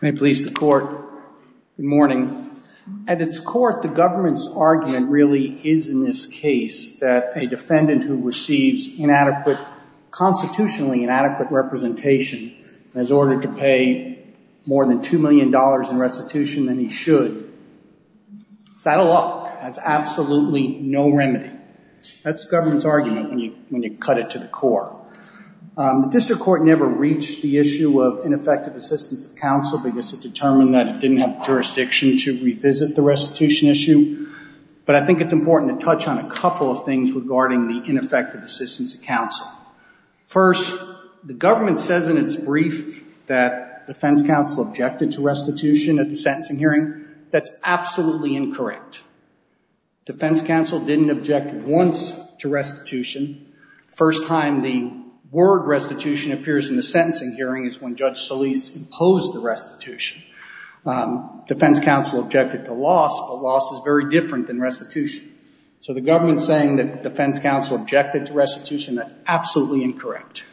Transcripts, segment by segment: May it please the court, good morning. At its core, the government's argument really is in this case that a defendant who receives inadequate, constitutionally inadequate representation is ordered to pay more than $2 million in restitution than he should. Is that a lot? That's absolutely no remedy. That's the government's argument when you cut it to the core. The district court never reached the issue of ineffective assistance of counsel because it determined that it didn't have jurisdiction to revisit the restitution issue. But I think it's important to touch on a couple of things regarding the ineffective assistance of counsel. First, the government says in its brief that defense counsel objected to restitution at the sentencing hearing. That's absolutely incorrect. Defense counsel didn't object once to restitution. The first time the word restitution appears in the sentencing hearing is when Judge Solis imposed the restitution. Defense counsel objected to loss, but loss is very different than restitution. So the government's saying that defense counsel objected to restitution. That's absolutely incorrect.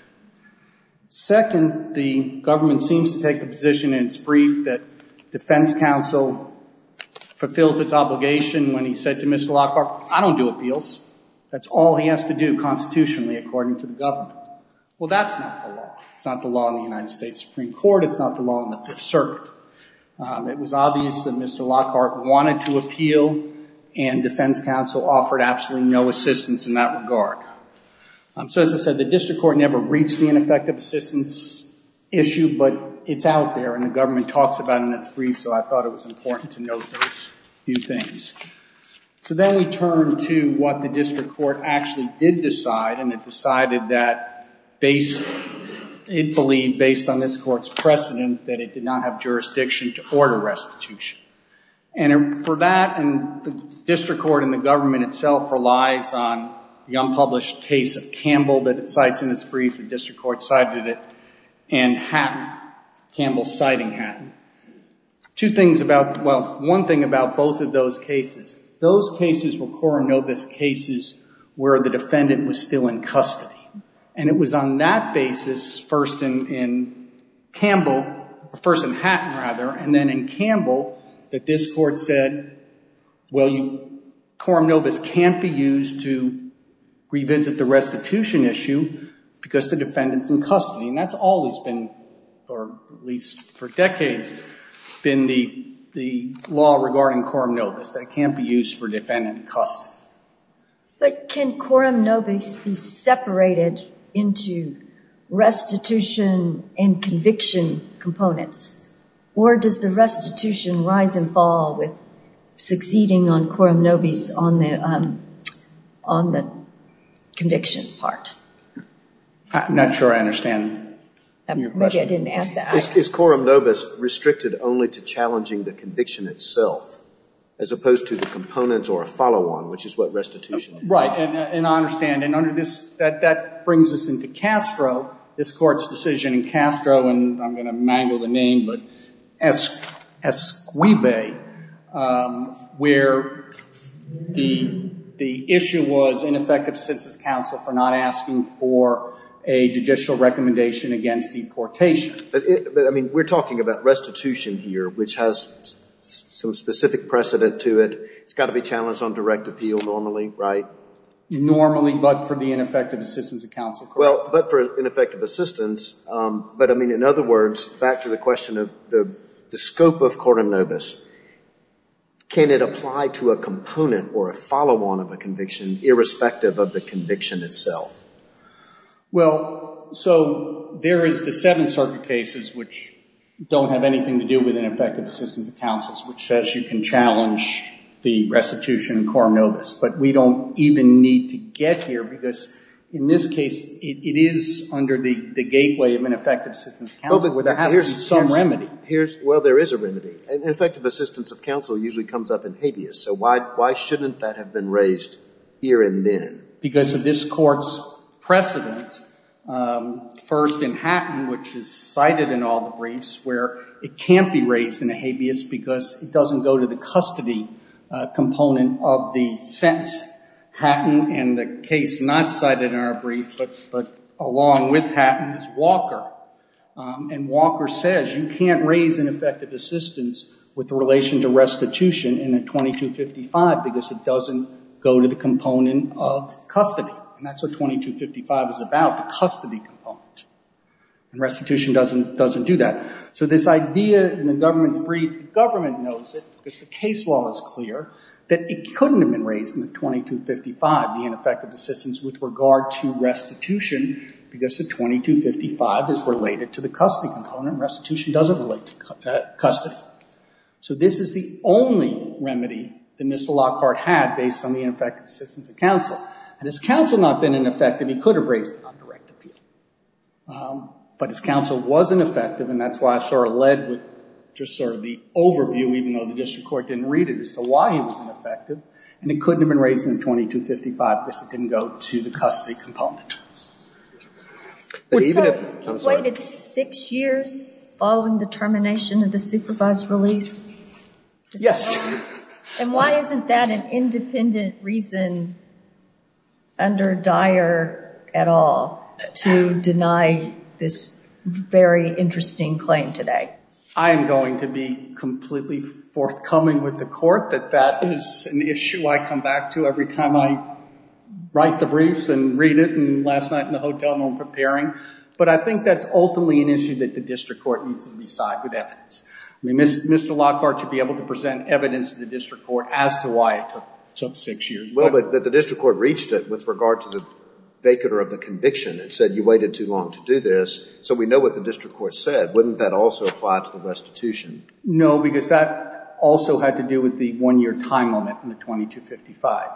Second, the government seems to take the position in its brief that defense counsel fulfills its obligation when he said to Mr. Lockhart, I don't do appeals. That's all he has to do constitutionally according to the government. Well, that's not the law. It's not the law in the United States Supreme Court. It's not the law in the Fifth Circuit. It was obvious that Mr. Lockhart wanted to appeal, and defense counsel offered absolutely no assistance in that regard. So as I said, the district court never reached the ineffective assistance issue, but it's out there, and the government talks about it in its brief, so I thought it was important to note those few things. So then we turn to what the district court actually did decide, and it decided that it believed, based on this court's precedent, that it did not have jurisdiction to order restitution. And for that, and the district court and the government itself relies on the unpublished case of Campbell that it cites in its brief, the district court cited it, and Hatton, Campbell citing Hatton. Two things about, well, one thing about both of those cases, those cases were coronovus cases where the defendant was still in custody, and it this court said, well, coronovus can't be used to revisit the restitution issue because the defendant's in custody. And that's always been, or at least for decades, been the law regarding coronovus, that it can't be used for defendant in custody. But can coronovus be separated into restitution and conviction components, or does the restitution rise and fall with succeeding on coronovus on the conviction part? I'm not sure I understand your question. Maybe I didn't ask that. Is coronovus restricted only to challenging the conviction itself, as opposed to the components or a follow-on, which is what restitution is? Right, and I understand. And under this, that brings us into Castro, this court's decision in Castro, and I'm going to mangle the name, but Esquibe, where the issue was ineffective assistance of counsel for not asking for a judicial recommendation against deportation. But, I mean, we're talking about restitution here, which has some specific precedent to it. It's got to be challenged on direct appeal normally, right? Normally, but for the ineffective assistance of counsel. Well, but for ineffective assistance. But, I mean, in other words, back to the question of the scope of coronovus, can it apply to a component or a follow-on of a conviction irrespective of the conviction itself? Well, so there is the Seventh Circuit cases, which don't have anything to do with ineffective assistance of counsel, which says you can challenge the restitution in coronovus. But we don't even need to get here, because in this case, it is under the gateway of ineffective assistance of counsel. There has to be some remedy. Well, there is a remedy. Ineffective assistance of counsel usually comes up in habeas. So why shouldn't that have been raised here and then? Because of this court's precedent, first in Hatton, which is cited in all the briefs, where it can't be raised in a habeas because it doesn't go to the custody component of the sentencing. Hatton, and the case not cited in our brief, but along with Hatton, is Walker. And Walker says you can't raise ineffective assistance with relation to restitution in a 2255 because it doesn't go to the component of custody. And that's what 2255 is about, the custody component. And restitution doesn't do that. So this idea in the government's brief, the government knows it because the case law is clear, that it couldn't have been raised in the 2255, the ineffective assistance with regard to restitution, because the 2255 is related to the custody component. Restitution doesn't relate to custody. So this is the only remedy the missile law court had based on the ineffective assistance of counsel. And has counsel not been ineffective, he could have raised it on direct appeal. But if counsel wasn't effective, and that's why I sort of said with just sort of the overview, even though the district court didn't read it as to why he wasn't effective, and it couldn't have been raised in the 2255 because it didn't go to the custody component. So he waited six years following the termination of the supervised release? Yes. And why isn't that an independent reason under Dyer at all to deny this very interesting claim today? I am going to be completely forthcoming with the court that that is an issue I come back to every time I write the briefs and read it, and last night in the hotel when I'm preparing. But I think that's ultimately an issue that the district court needs to decide with evidence. Mr. Lockhart should be able to present evidence to the district court as to why it took six years. Well, but the district court reached it with regard to the vacant or of the conviction and said you waited too long to do this, so we know what the district court said. Wouldn't that also apply to the restitution? No, because that also had to do with the one-year time limit in the 2255,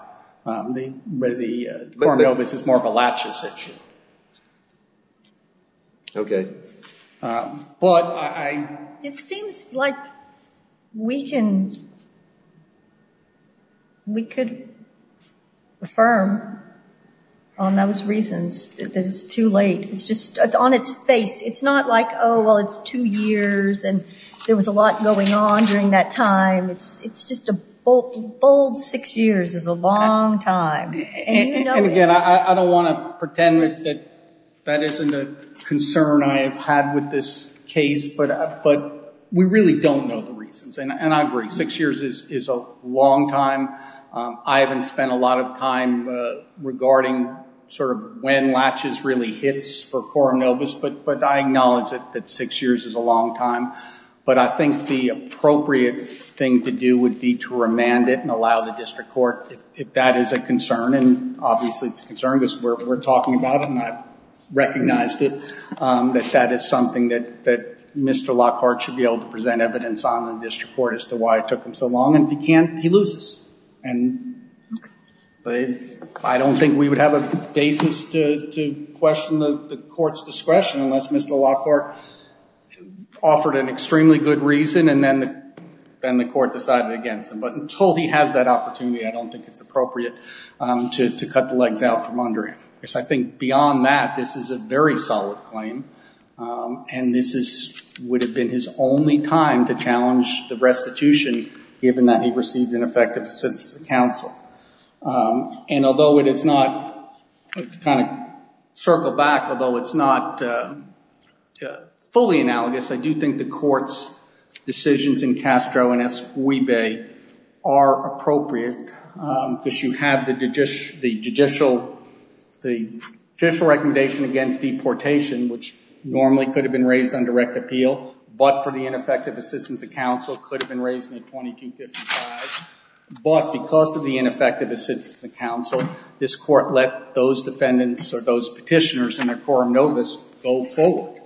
where the court of notice is more of a latches issue. Okay. But I... It seems like we can, we could affirm on those reasons that it's too late. It's just, it's on its face. It's not like, oh, well, it's two years and there was a lot going on during that time. It's just a bold six years is a long time, and you know it. And again, I don't want to pretend that that isn't a concern I have had with this case, but we really don't know the reasons. And I agree, six years is a long time. I haven't spent a lot of time regarding sort of when latches really hits for quorum notice, but I acknowledge that six years is a long time. But I think the appropriate thing to do would be to remand it and allow the district court, if that is a concern, and obviously it's a concern because we're talking about it and I've recognized it, that that is something that Mr. Lockhart should be able to present evidence on the district court as to why it took him so long, and if he can't, he loses. And I don't think we would have a basis to question the court's discretion unless Mr. Lockhart offered an extremely good reason and then the court decided against him. But until he has that opportunity, I don't think it's appropriate to cut the legs out from under him. I think beyond that, this is a very solid claim, and this would have been his only time to challenge the restitution given that he received ineffective assistance from counsel. And although it is not, kind of circle back, although it's not fully analogous, I do think the court's decisions in Castro and Esquibe are appropriate because you have the judicial recommendation against deportation, which normally could have been raised on direct appeal, but for the ineffective assistance of counsel could have been raised in a 2255. But because of the ineffective assistance of counsel, this court let those defendants or those petitioners in their quorum notice go forward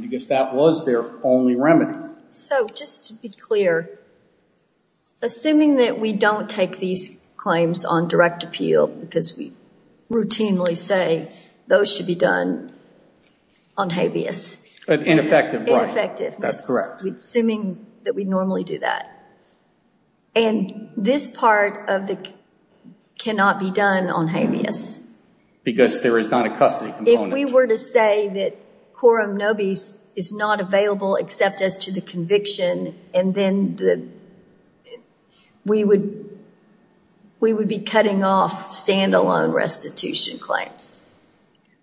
because that was their only remedy. So just to be clear, assuming that we don't take these claims on direct appeal because we routinely say those should be done on habeas. Ineffective, right. Ineffectiveness. That's correct. Assuming that we normally do that. And this part of the cannot be done on habeas. Because there is not a custody component. If we were to say that quorum nobis is not available except as to the conviction, and then we would be cutting off stand-alone restitution claims.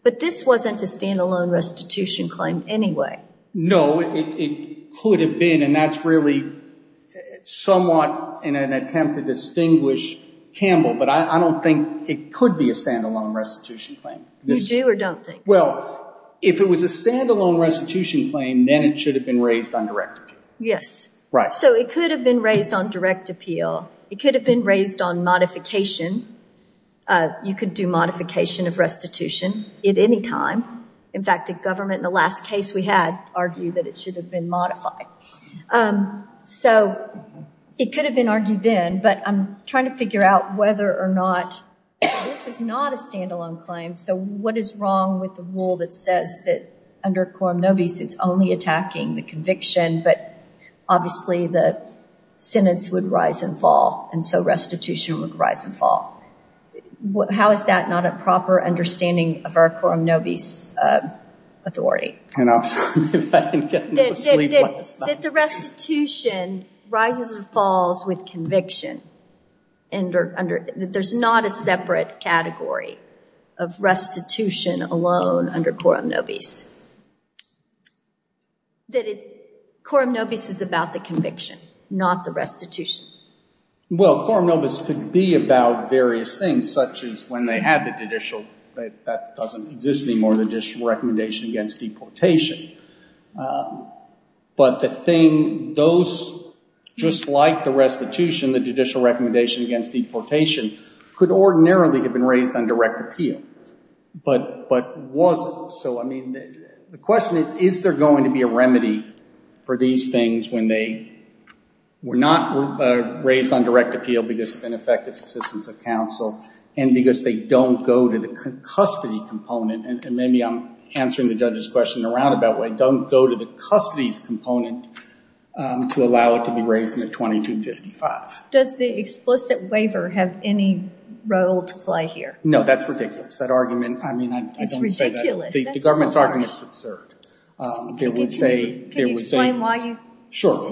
But this wasn't a stand-alone restitution claim anyway. No, it could have been, and that's really somewhat in an attempt to distinguish Campbell, but I don't think it could be a stand-alone restitution claim. You do or don't think? Well, if it was a stand-alone restitution claim, then it should have been raised on direct appeal. Yes. Right. So it could have been raised on direct appeal. It could have been raised on modification. You could do modification of restitution at any time. In fact, the government in the last case we had argued that it should have been modified. So it could have been argued then, but I'm trying to figure out whether or not this is not a stand-alone claim. So what is wrong with the rule that says that under quorum nobis, it's only attacking the conviction, but obviously the sentence would rise and fall, and so restitution would rise and fall. How is that not a proper understanding of our quorum nobis authority? And obviously, if I can get enough sleep last night. That the restitution rises and falls with conviction. That there's not a separate category of restitution alone under quorum nobis. That quorum nobis is about the conviction, not the restitution. Well, quorum nobis could be about various things, such as when they had the judicial – that doesn't exist anymore – the judicial recommendation against deportation. But the thing, those just like the restitution, the judicial recommendation against deportation could ordinarily have been raised on direct appeal, but wasn't. So I mean, the question is, is there going to be a remedy for these things when they were not raised on direct appeal because of ineffective assistance of counsel and because they don't go to the custody component? And maybe I'm answering the judge's question in a roundabout way. Don't go to the custody's component to allow it to be raised in a 2255. Does the explicit waiver have any role to play here? No, that's ridiculous. That argument, I mean, I don't say that. The government's argument is absurd. It would say – Can you explain why you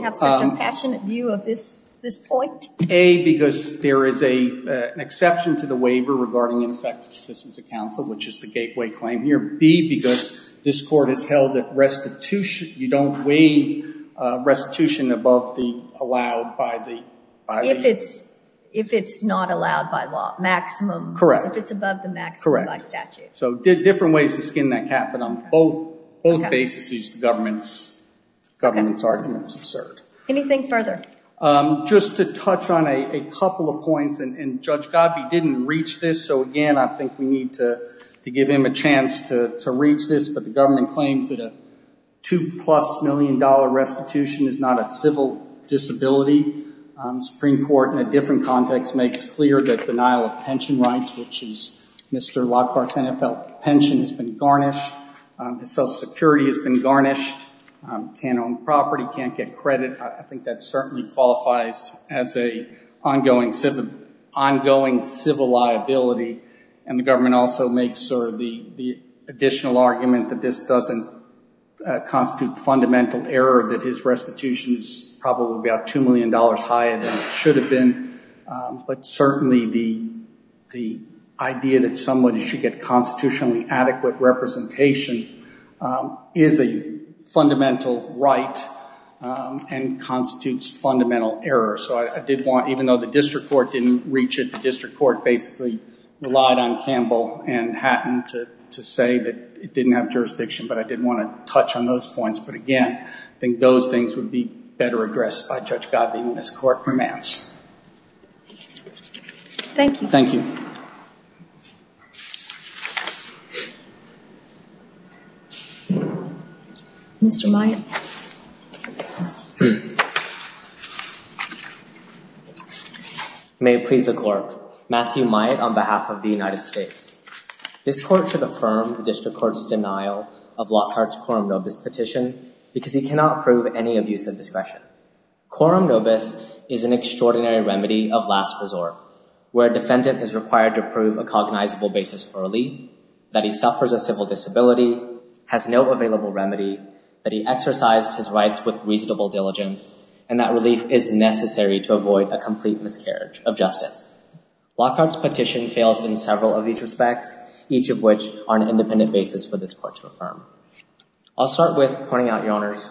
have such an impassionate view of this point? A, because there is an exception to the waiver regarding ineffective assistance of counsel, which is the gateway claim here. B, because this Court has held that restitution – you don't waive restitution above the allowed by the – If it's not allowed by law. Maximum. Correct. If it's above the maximum by statute. So different ways to skin that cat, but on both bases, the government's argument is absurd. Anything further? Just to touch on a couple of points, and Judge Gabbi didn't reach this, so again, I don't think we need to give him a chance to reach this, but the government claims that a two-plus-million-dollar restitution is not a civil disability. Supreme Court, in a different context, makes clear that denial of pension rights, which is Mr. Lockhart's NFL pension, has been garnished. Social Security has been garnished. Can't own property. Can't get credit. I think that certainly qualifies as an ongoing civil liability, and the government also makes sort of the additional argument that this doesn't constitute fundamental error, that his restitution is probably about $2 million higher than it should have been. But certainly, the idea that somebody should get constitutionally adequate representation is a fundamental right and constitutes fundamental error. So I did want, even though the district court didn't reach it, the district court basically relied on Campbell and Hatton to say that it didn't have jurisdiction, but I did want to touch on those points. But again, I think those things would be better addressed by Judge Gabbi in this court romance. Thank you. Thank you. Mr. Myatt. May it please the court. Matthew Myatt on behalf of the United States. This court should affirm the district court's denial of Lockhart's quorum nobis petition because he cannot prove any abuse of discretion. Quorum nobis is an extraordinary remedy of last resort, where a defendant is required to prove a cognizable basis for relief, that he suffers a civil disability, has no available remedy, that he exercised his rights with reasonable diligence, and that relief is necessary to avoid a complete miscarriage of justice. Lockhart's petition fails in several of these respects, each of which are an independent basis for this court to affirm. I'll start with pointing out your honor's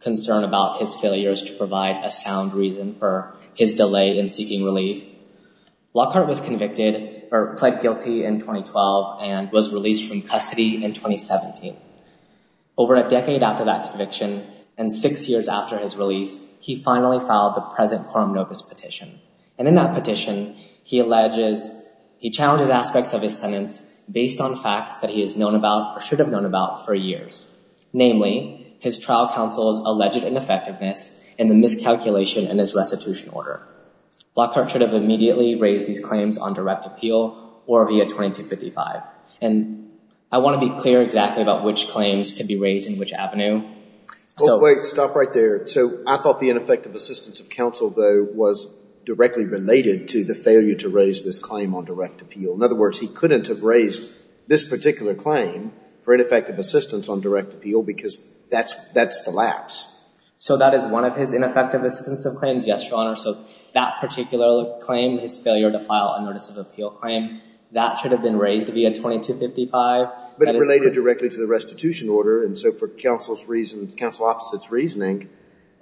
concern about his failures to provide a sound reason for his delay in seeking relief. Lockhart was convicted or pled guilty in 2012 and was released from custody in 2017. Over a decade after that conviction and six years after his release, he finally filed the present quorum nobis petition. And in that petition, he alleges, he challenges aspects of his sentence based on facts that he has known about or should have known about for years. Namely, his trial counsel's alleged ineffectiveness in the miscalculation in his restitution order. Lockhart should have immediately raised these claims on direct appeal or via 2255. And I want to be clear exactly about which claims can be raised in which avenue. Oh wait, stop right there. So I thought the ineffective assistance of counsel though was directly related to the failure to raise this claim on direct appeal. In other words, he couldn't have raised this particular claim for ineffective assistance on direct appeal because that's the lapse. So that is one of his ineffective assistance of claims? Yes, your honor. So that particular claim, his failure to file a notice of appeal claim, that should have been raised via 2255. But it related directly to the restitution order. And so for counsel's reasons, counsel opposite's reasoning,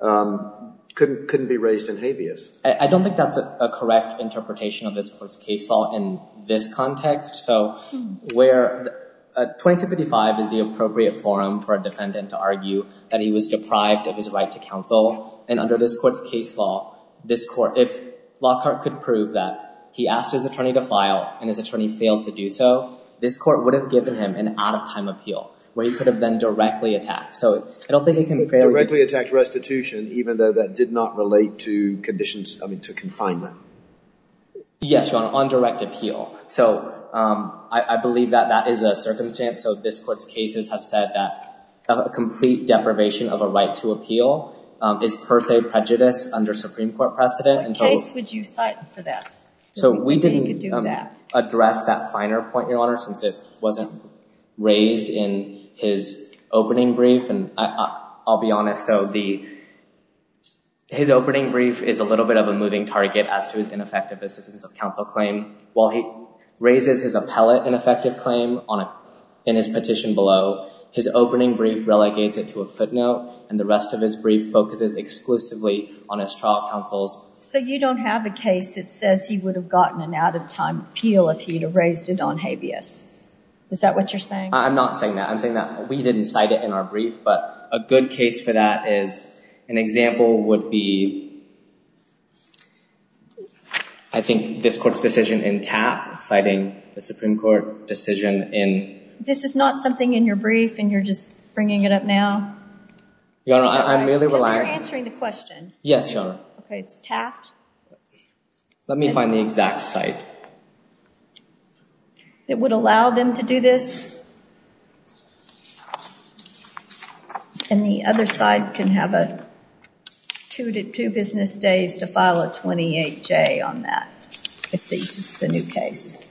couldn't be raised in habeas. I don't think that's a correct interpretation of this court's case law in this context. So where 2255 is the appropriate forum for a defendant to argue that he was deprived of his right to counsel. And under this court's case law, this court, if Lockhart could prove that he asked his attorney to file and his attorney failed to do so, this court would have given him an out-of-time appeal where he could have been directly attacked. So I don't think it can be fairly- Directly attacked restitution, even though that did not relate to conditions, I mean, to confinement. Yes, your honor, on direct appeal. So I believe that that is a circumstance. So this court's cases have said that a complete deprivation of a right to appeal is per se prejudice under Supreme Court precedent. What case would you cite for this? So we didn't address that finer point, your honor, since it wasn't raised in his opening brief. And I'll be honest. So his opening brief is a little bit of a moving target as to his ineffective assistance of counsel claim. While he raises his appellate ineffective claim in his petition below, his opening brief relegates it to a footnote, and the rest of his brief focuses exclusively on his trial counsels. So you don't have a case that says he would have gotten an out-of-time appeal if he'd have raised it on habeas. Is that what you're saying? I'm not saying that. I'm saying that we didn't cite it in our brief, but a good case for that is an example would be, I think, this court's decision in Taft, citing the Supreme Court decision in— This is not something in your brief, and you're just bringing it up now? Your honor, I'm merely relying— Because you're answering the question. Yes, your honor. OK, it's Taft. Let me find the exact cite. It would allow them to do this, and the other side can have two business days to file a 28-J on that, if it's a new case.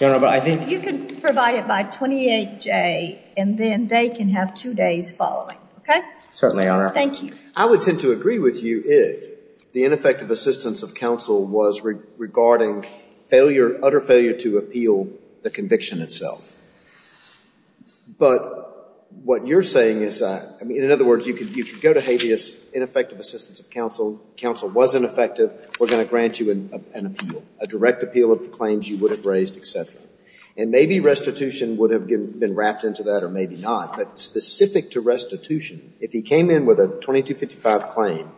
Your honor, but I think— You can provide it by 28-J, and then they can have two days following, OK? Certainly, your honor. Thank you. I would tend to agree with you if the ineffective assistance of counsel was regarding failure, utter failure to appeal the conviction itself. But what you're saying is that— I mean, in other words, you could go to habeas, ineffective assistance of counsel. Counsel wasn't effective. We're going to grant you an appeal, a direct appeal of the claims you would have raised, And maybe restitution would have been wrapped into that, or maybe not. Specific to restitution, if he came in with a 2255 claim,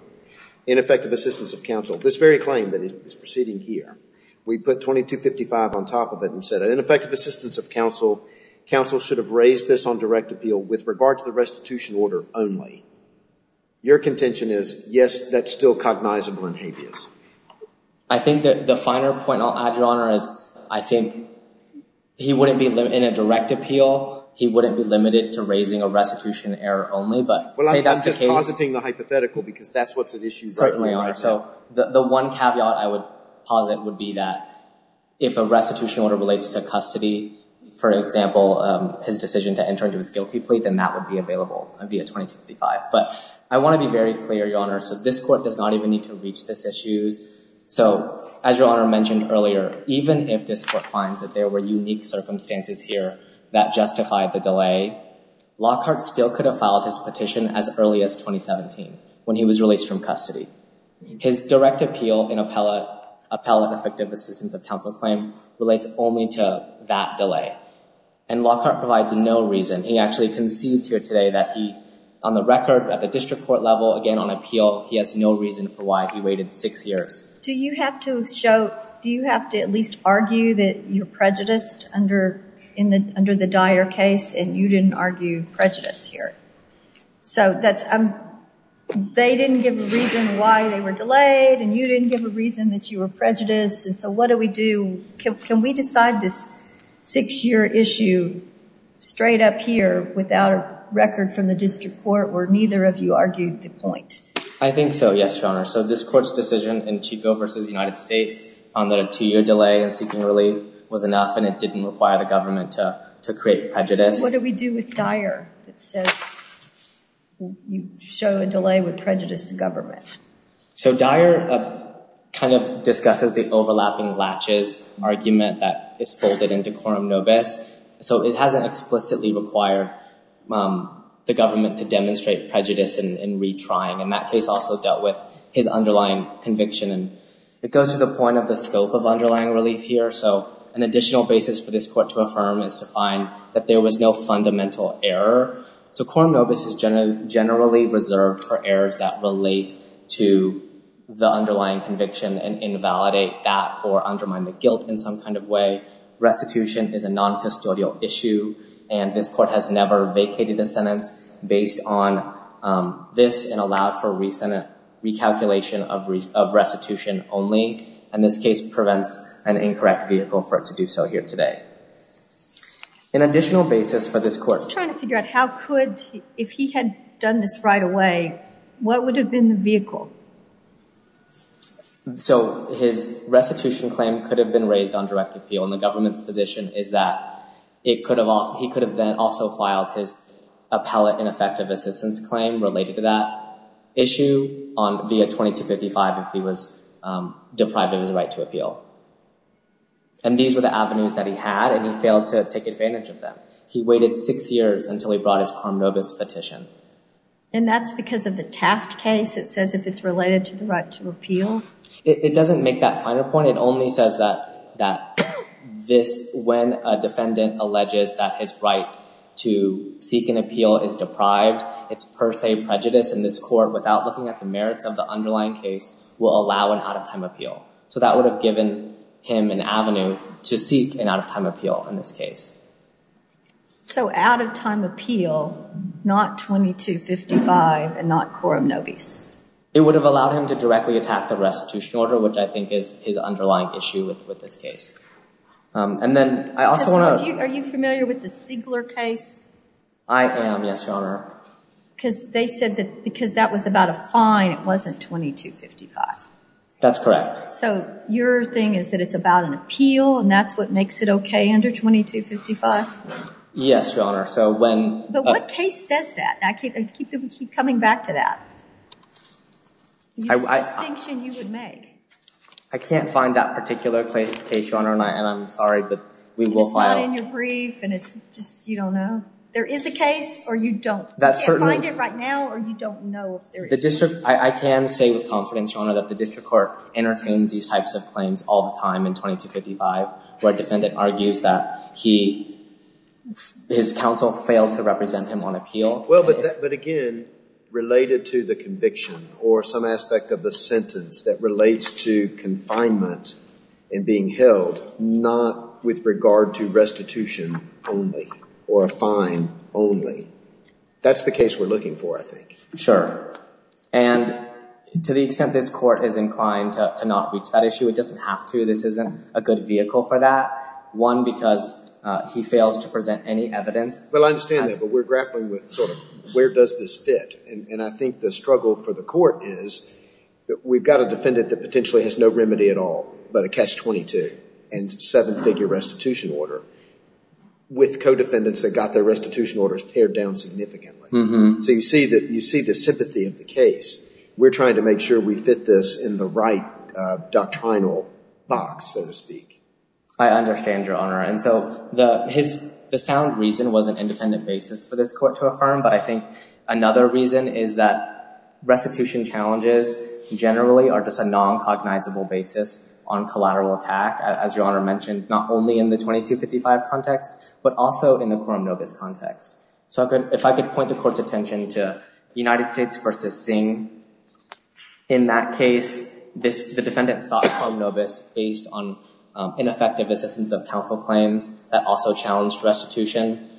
ineffective assistance of counsel, this very claim that is proceeding here, we put 2255 on top of it and said an ineffective assistance of counsel, counsel should have raised this on direct appeal with regard to the restitution order only. Your contention is, yes, that's still cognizable in habeas. I think that the finer point I'll add, your honor, is I think he wouldn't be—in a direct appeal, he wouldn't be limited to raising a restitution error only, but say that the case— Well, I'm just positing the hypothetical because that's what's at issue right now. Certainly are. So the one caveat I would posit would be that if a restitution order relates to custody, for example, his decision to enter into his guilty plea, then that would be available via 2255. But I want to be very clear, your honor, so this court does not even need to reach this issues. So as your honor mentioned earlier, even if this court finds that there were unique circumstances here that justify the delay, Lockhart still could have filed his petition as early as 2017 when he was released from custody. His direct appeal in appellate effective assistance of counsel claim relates only to that delay and Lockhart provides no reason. He actually concedes here today that he, on the record at the district court level, again on appeal, he has no reason for why he waited six years. Do you have to show—do you have to at least argue that you're prejudiced under the Dyer case and you didn't argue prejudice here? So that's—they didn't give a reason why they were delayed and you didn't give a reason that you were prejudiced and so what do we do? Can we decide this six-year issue straight up here without a record from the district court where neither of you argued the point? I think so, yes, your honor. So this court's decision in Chico v. United States found that a two-year delay in seeking relief was enough and it didn't require the government to create prejudice. What do we do with Dyer that says you show a delay would prejudice the government? So Dyer kind of discusses the overlapping latches argument that is folded into quorum nobis. So it hasn't explicitly required the government to demonstrate prejudice in retrying and that case also dealt with his underlying conviction and it goes to the point of the scope of underlying relief here. So an additional basis for this court to affirm is to find that there was no fundamental error. So quorum nobis is generally reserved for errors that relate to the underlying conviction and invalidate that or undermine the guilt in some kind of way. Restitution is a non-custodial issue and this court has never vacated a sentence based on this and allowed for recent recalculation of restitution only. And this case prevents an incorrect vehicle for it to do so here today. An additional basis for this court... I'm just trying to figure out how could, if he had done this right away, what would have been the vehicle? So his restitution claim could have been raised on direct appeal and the government's position is that it could have, he could have then also filed his appellate ineffective assistance claim related to that issue on via 2255 if he was deprived of his right to appeal. And these were the avenues that he had and he failed to take advantage of them. He waited six years until he brought his quorum nobis petition. And that's because of the Taft case. It says if it's related to the right to appeal. It doesn't make that final point. It only says that this, when a defendant alleges that his right to seek an appeal is deprived, it's per se prejudice in this court without looking at the merits of the underlying case will allow an out of time appeal. So that would have given him an avenue to seek an out of time appeal in this case. So out of time appeal, not 2255 and not quorum nobis. It would have allowed him to directly attack the restitution order, which I think is his underlying issue with this case. And then I also want to. Are you familiar with the Sigler case? I am. Yes, Your Honor. Because they said that because that was about a fine, it wasn't 2255. That's correct. So your thing is that it's about an appeal and that's what makes it okay under 2255? Yes, Your Honor. So when. But what case says that? I keep coming back to that. The distinction you would make. I can't find that particular case, Your Honor, and I'm sorry, but we will find out. And it's not in your brief and it's just, you don't know. There is a case or you don't find it right now or you don't know if there is. I can say with confidence, Your Honor, that the district court entertains these types of claims all the time in 2255 where a defendant argues that he, his counsel failed to represent him on appeal. Well, but again, related to the conviction or some aspect of the sentence that relates to confinement and being held, not with regard to restitution only or a fine only. That's the case we're looking for, I think. Sure. And to the extent this court is inclined to not reach that issue, it doesn't have to. This isn't a good vehicle for that. One, because he fails to present any evidence. Well, I understand that, but we're grappling with sort of where does this fit? And I think the struggle for the court is that we've got a defendant that potentially has no remedy at all, but a catch-22 and seven-figure restitution order with co-defendants that got their restitution orders pared down significantly. So you see the sympathy of the case. We're trying to make sure we fit this in the right doctrinal box, so to speak. I understand, Your Honor. And so the sound reason was an independent basis for this court to affirm. But I think another reason is that restitution challenges generally are just a non-cognizable basis on collateral attack, as Your Honor mentioned, not only in the 2255 context, but also in the quorum novus context. So if I could point the court's attention to the United States versus Singh, in that case, the defendant sought quorum novus based on ineffective assistance of counsel claims that also challenged restitution.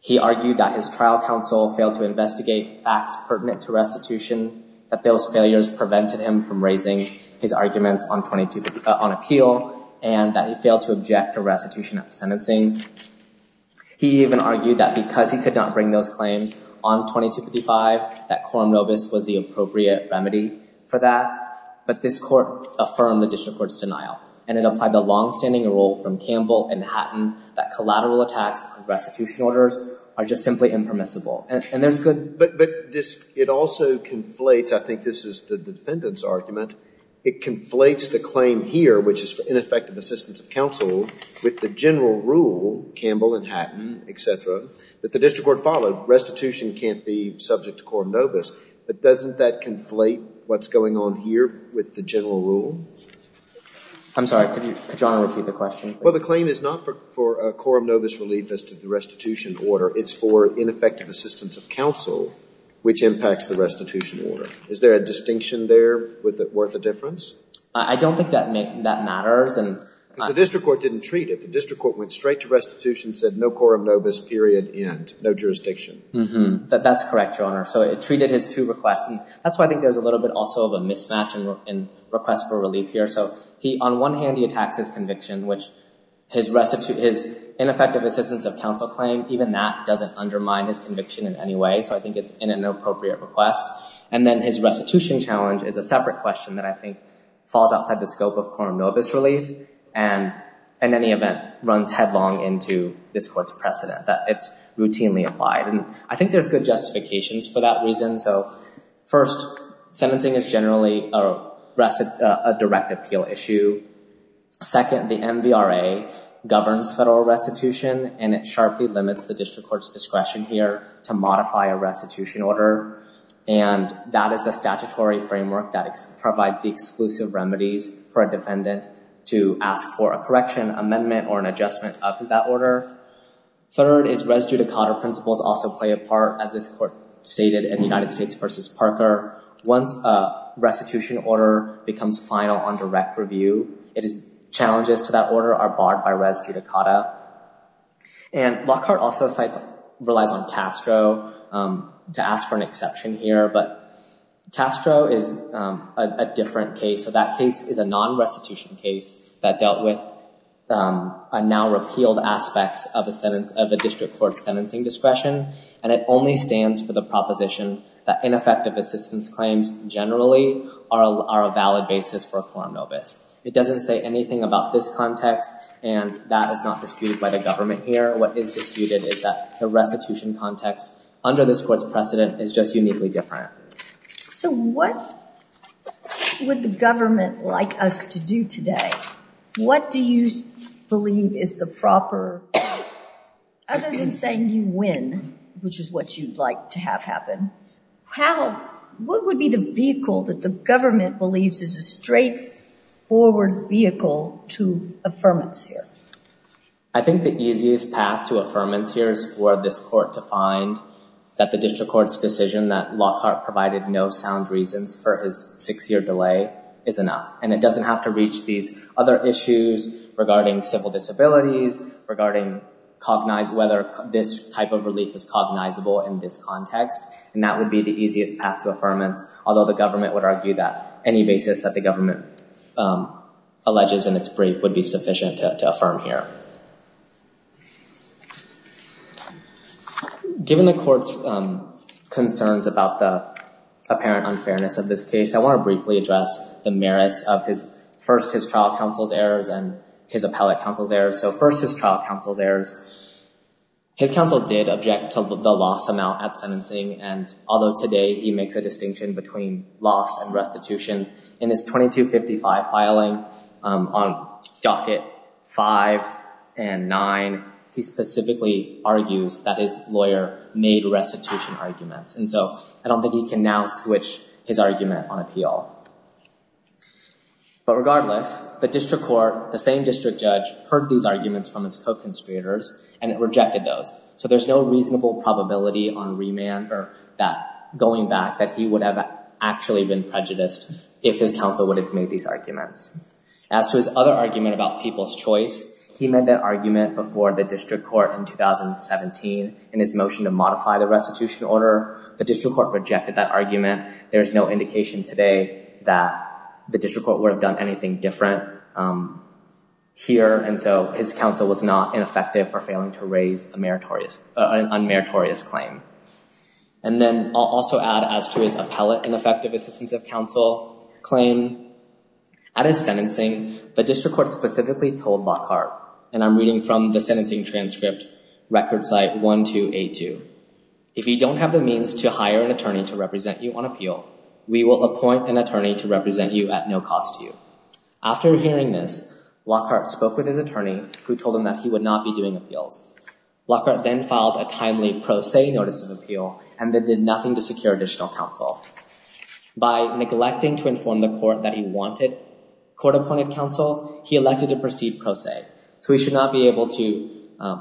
He argued that his trial counsel failed to investigate facts pertinent to restitution, that those failures prevented him from raising his arguments on appeal, and that he failed to object to restitution at sentencing. He even argued that because he could not bring those claims on 2255, that quorum novus was the appropriate remedy for that. But this court affirmed the district court's denial. And it applied the longstanding rule from Campbell and Hatton that collateral attacks on restitution orders are just simply impermissible. And there's good— But this—it also conflates—I think this is the defendant's argument—it conflates the claim here, which is for ineffective assistance of counsel, with the general rule Campbell and Hatton, et cetera, that the district court followed. Restitution can't be subject to quorum novus. But doesn't that conflate what's going on here with the general rule? I'm sorry. Could you—could you repeat the question, please? Well, the claim is not for quorum novus relief as to the restitution order. It's for ineffective assistance of counsel, which impacts the restitution order. Is there a distinction there worth a difference? I don't think that matters. Because the district court didn't treat it. The district court went straight to restitution, said no quorum novus, period, end. No jurisdiction. That's correct, Your Honor. So, it treated his two requests. And that's why I think there's a little bit also of a mismatch in request for relief here. So, on one hand, he attacks his conviction, which his ineffective assistance of counsel claim, even that doesn't undermine his conviction in any way. So, I think it's an inappropriate request. And then his restitution challenge is a separate question that I think falls outside the scope of quorum novus relief. And in any event, runs headlong into this court's precedent that it's routinely applied. And I think there's good justifications for that reason. So, first, sentencing is generally a direct appeal issue. Second, the MVRA governs federal restitution. And it sharply limits the district court's discretion here to modify a restitution order. And that is the statutory framework that provides the exclusive remedies for a defendant to ask for a correction, amendment, or an adjustment of that order. Third is res judicata principles also play a part, as this court stated in United States versus Parker. Once a restitution order becomes final on direct review, challenges to that order are barred by res judicata. And Lockhart also relies on Castro to ask for an exception here. But Castro is a different case. That case is a non-restitution case that dealt with now repealed aspects of a district court's sentencing discretion. And it only stands for the proposition that ineffective assistance claims generally are a valid basis for a quorum novus. It doesn't say anything about this context. And that is not disputed by the government here. What is disputed is that the restitution context under this court's precedent is just uniquely different. So what would the government like us to do today? What do you believe is the proper, other than saying you win, which is what you'd like to have happen, what would be the vehicle that the government believes is a straightforward vehicle to affirmance here? I think the easiest path to affirmance here is for this court to find that the district court provided no sound reasons for his six-year delay is enough. And it doesn't have to reach these other issues regarding civil disabilities, regarding whether this type of relief is cognizable in this context. And that would be the easiest path to affirmance. Although the government would argue that any basis that the government alleges in its brief would be sufficient to affirm here. Given the court's concerns about the apparent unfairness of this case, I want to briefly address the merits of first his trial counsel's errors and his appellate counsel's errors. So first his trial counsel's errors. His counsel did object to the loss amount at sentencing. And although today he makes a distinction between loss and restitution in his 2255 filing on docket five and nine, he specifically argues that his lawyer made restitution arguments. And so I don't think he can now switch his argument on appeal. But regardless, the district court, the same district judge heard these arguments from his co-conspirators and it rejected those. So there's no reasonable probability on remand or that going back that he would have actually been prejudiced if his counsel would have made these arguments. As to his other argument about people's choice, he made that argument before the district court in 2017 in his motion to modify the restitution order. The district court rejected that argument. There is no indication today that the district court would have done anything different here. And so his counsel was not ineffective for failing to raise a unmeritorious claim. And then I'll also add as to his appellate ineffective assistance of counsel claim. At his sentencing, the district court specifically told Lockhart, and I'm reading from the sentencing transcript record site 1282. If you don't have the means to hire an attorney to represent you on appeal, we will appoint an attorney to represent you at no cost to you. After hearing this, Lockhart spoke with his attorney who told him that he would not be doing appeals. Lockhart then filed a timely pro se notice of appeal and then did nothing to secure additional counsel. By neglecting to inform the court that he wanted court appointed counsel, he elected to proceed pro se. So he should not be able to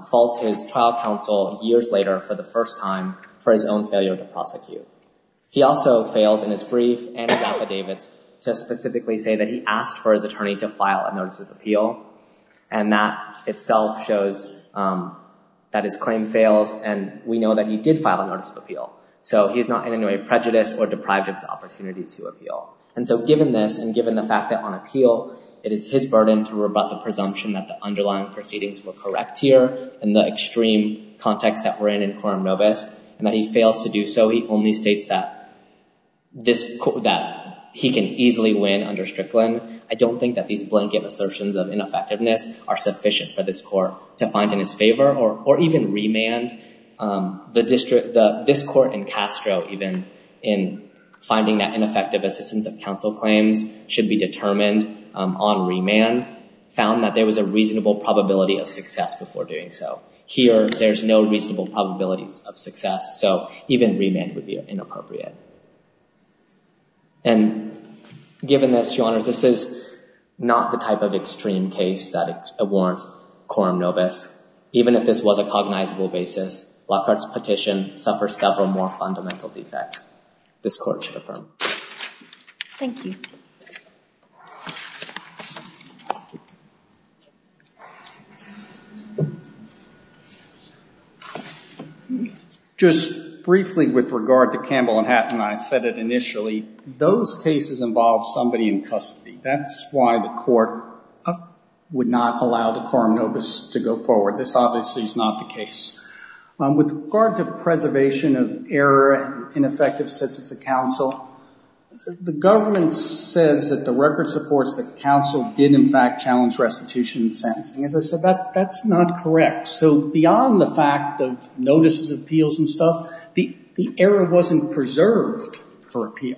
fault his trial counsel years later for the first time for his own failure to prosecute. He also fails in his brief and his affidavits to specifically say that he asked for his attorney to file a notice of appeal. And that itself shows that his claim fails and we know that he did file a notice of appeal. So he's not in any way prejudiced or deprived of his opportunity to appeal. And so given this and given the fact that on appeal, it is his burden to rebut the presumption that the underlying proceedings were correct here in the extreme context that we're in in quorum nobis and that he fails to do so, he only states that he can easily win under Strickland. I don't think that these blanket assertions of ineffectiveness are sufficient for this court to find in his favor or even remand. The district, this court in Castro even in finding that ineffective assistance of counsel claims should be determined on remand found that there was a reasonable probability of success before doing so. Here, there's no reasonable probabilities of success. So even remand would be inappropriate. And given this, Your Honors, this is not the type of extreme case that warrants quorum nobis. Even if this was a cognizable basis, Lockhart's petition suffers several more fundamental defects. This court should affirm. Thank you. Just briefly with regard to Campbell and Hatton, I said it initially, those cases involve somebody in custody. That's why the court would not allow the quorum nobis to go forward. This obviously is not the case. With regard to preservation of error and ineffective assistance of counsel, the government says that the record supports that counsel did in fact challenge restitution and sentencing. As I said, that's not correct. So beyond the fact of notices, appeals, and stuff, the error wasn't preserved for appeal.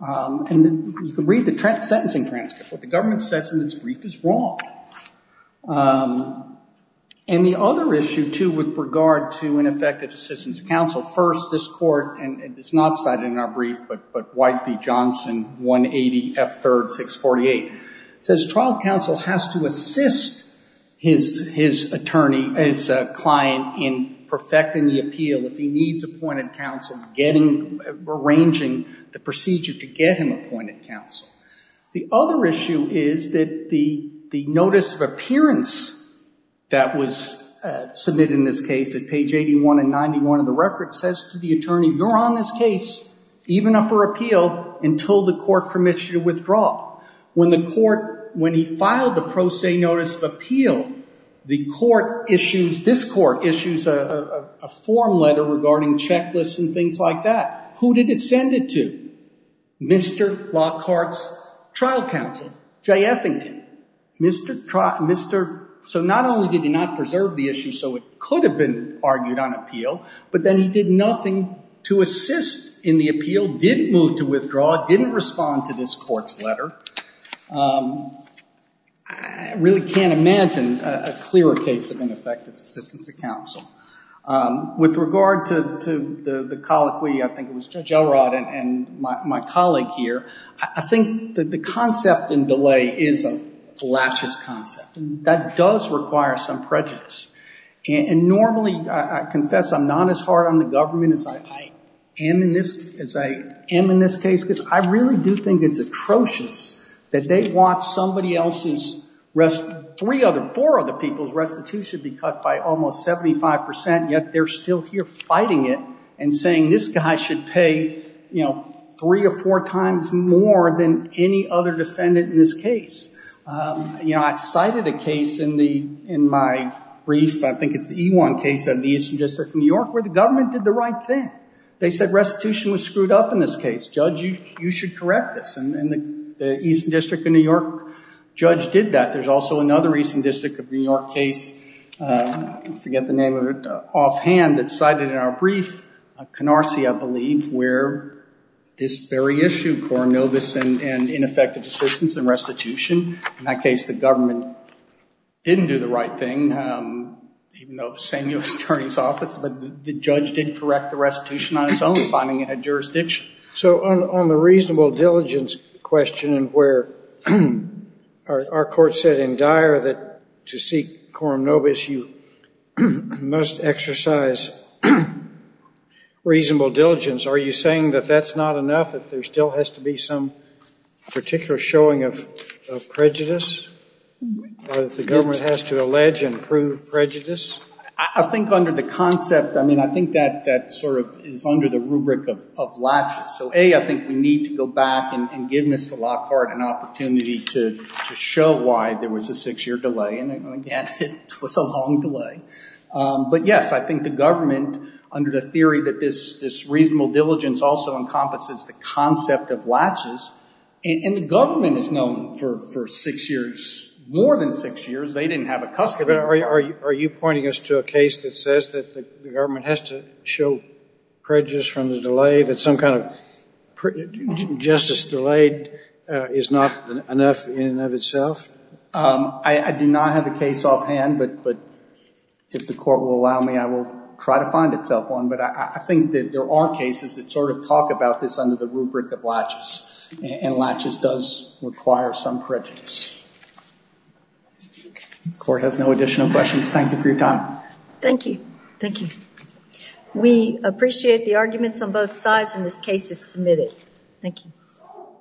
And read the sentencing transcript. What the government says in its brief is wrong. And the other issue, too, with regard to ineffective assistance of counsel, first, this court, and it's not cited in our brief, but White v. Johnson, 180 F. 3rd, 648, says trial counsel has to assist his attorney, his client, in perfecting the appeal if he needs appointed counsel, arranging the procedure to get him appointed counsel. The other issue is that the notice of appearance that was submitted in this case at page 81 and 91 of the record says to the attorney, you're on this case, even up for appeal, until the court permits you to withdraw. When the court, when he filed the pro se notice of appeal, the court issues, this court issues a form letter regarding checklists and things like that. Who did it send it to? Mr. Lockhart's trial counsel, Jay Effington. So not only did he not preserve the issue so it could have been argued on appeal, but then he did nothing to assist in the appeal, didn't move to withdraw, didn't respond to this court's letter. I really can't imagine a clearer case of ineffective assistance of counsel. With regard to the colloquy, I think it was Judge Elrod and my colleague here, I think that the concept in delay is a laches concept. That does require some prejudice. And normally, I confess I'm not as hard on the government as I am in this case, because I really do think it's atrocious that they want somebody else's, three other, four other people's restitution be cut by almost 75%, yet they're still here fighting it and saying this guy should pay three or four times more than any other defendant in this case. I cited a case in my brief, I think it's the E-1 case of the Eastern District of New York, where the government did the right thing. They said restitution was screwed up in this case. Judge, you should correct this. And the Eastern District of New York judge did that. There's also another Eastern District of New York case, I forget the name of it, offhand that's cited in our brief, Canarsie, I believe, where this very issue, Coronovus and ineffective assistance and restitution. In that case, the government didn't do the right thing, even though Samuel was attorney's office. But the judge did correct the restitution on its own, finding it had jurisdiction. So on the reasonable diligence question, where our court said in Dyer that to seek Coronovus, you must exercise reasonable diligence. Are you saying that that's not enough, that there still has to be some particular showing of prejudice, or that the government has to allege and prove prejudice? I think under the concept, I mean, I think that sort of is under the rubric of latches. So A, I think we need to go back and give Mr. Lockhart an opportunity to show why there was a six-year delay. And again, it was a long delay. But yes, I think the government, under the theory that this reasonable diligence also encompasses the concept of latches, and the government has known for six years, more than six years, they didn't have a custody. Are you pointing us to a case that says that the government has to show prejudice from the delay, that some kind of justice delayed is not enough in and of itself? I do not have a case offhand. But if the court will allow me, I will try to find itself one. But I think that there are cases that sort of talk about this under the rubric of latches. And latches does require some prejudice. The court has no additional questions. Thank you for your time. Thank you. Thank you. We appreciate the arguments on both sides, and this case is submitted. Thank you.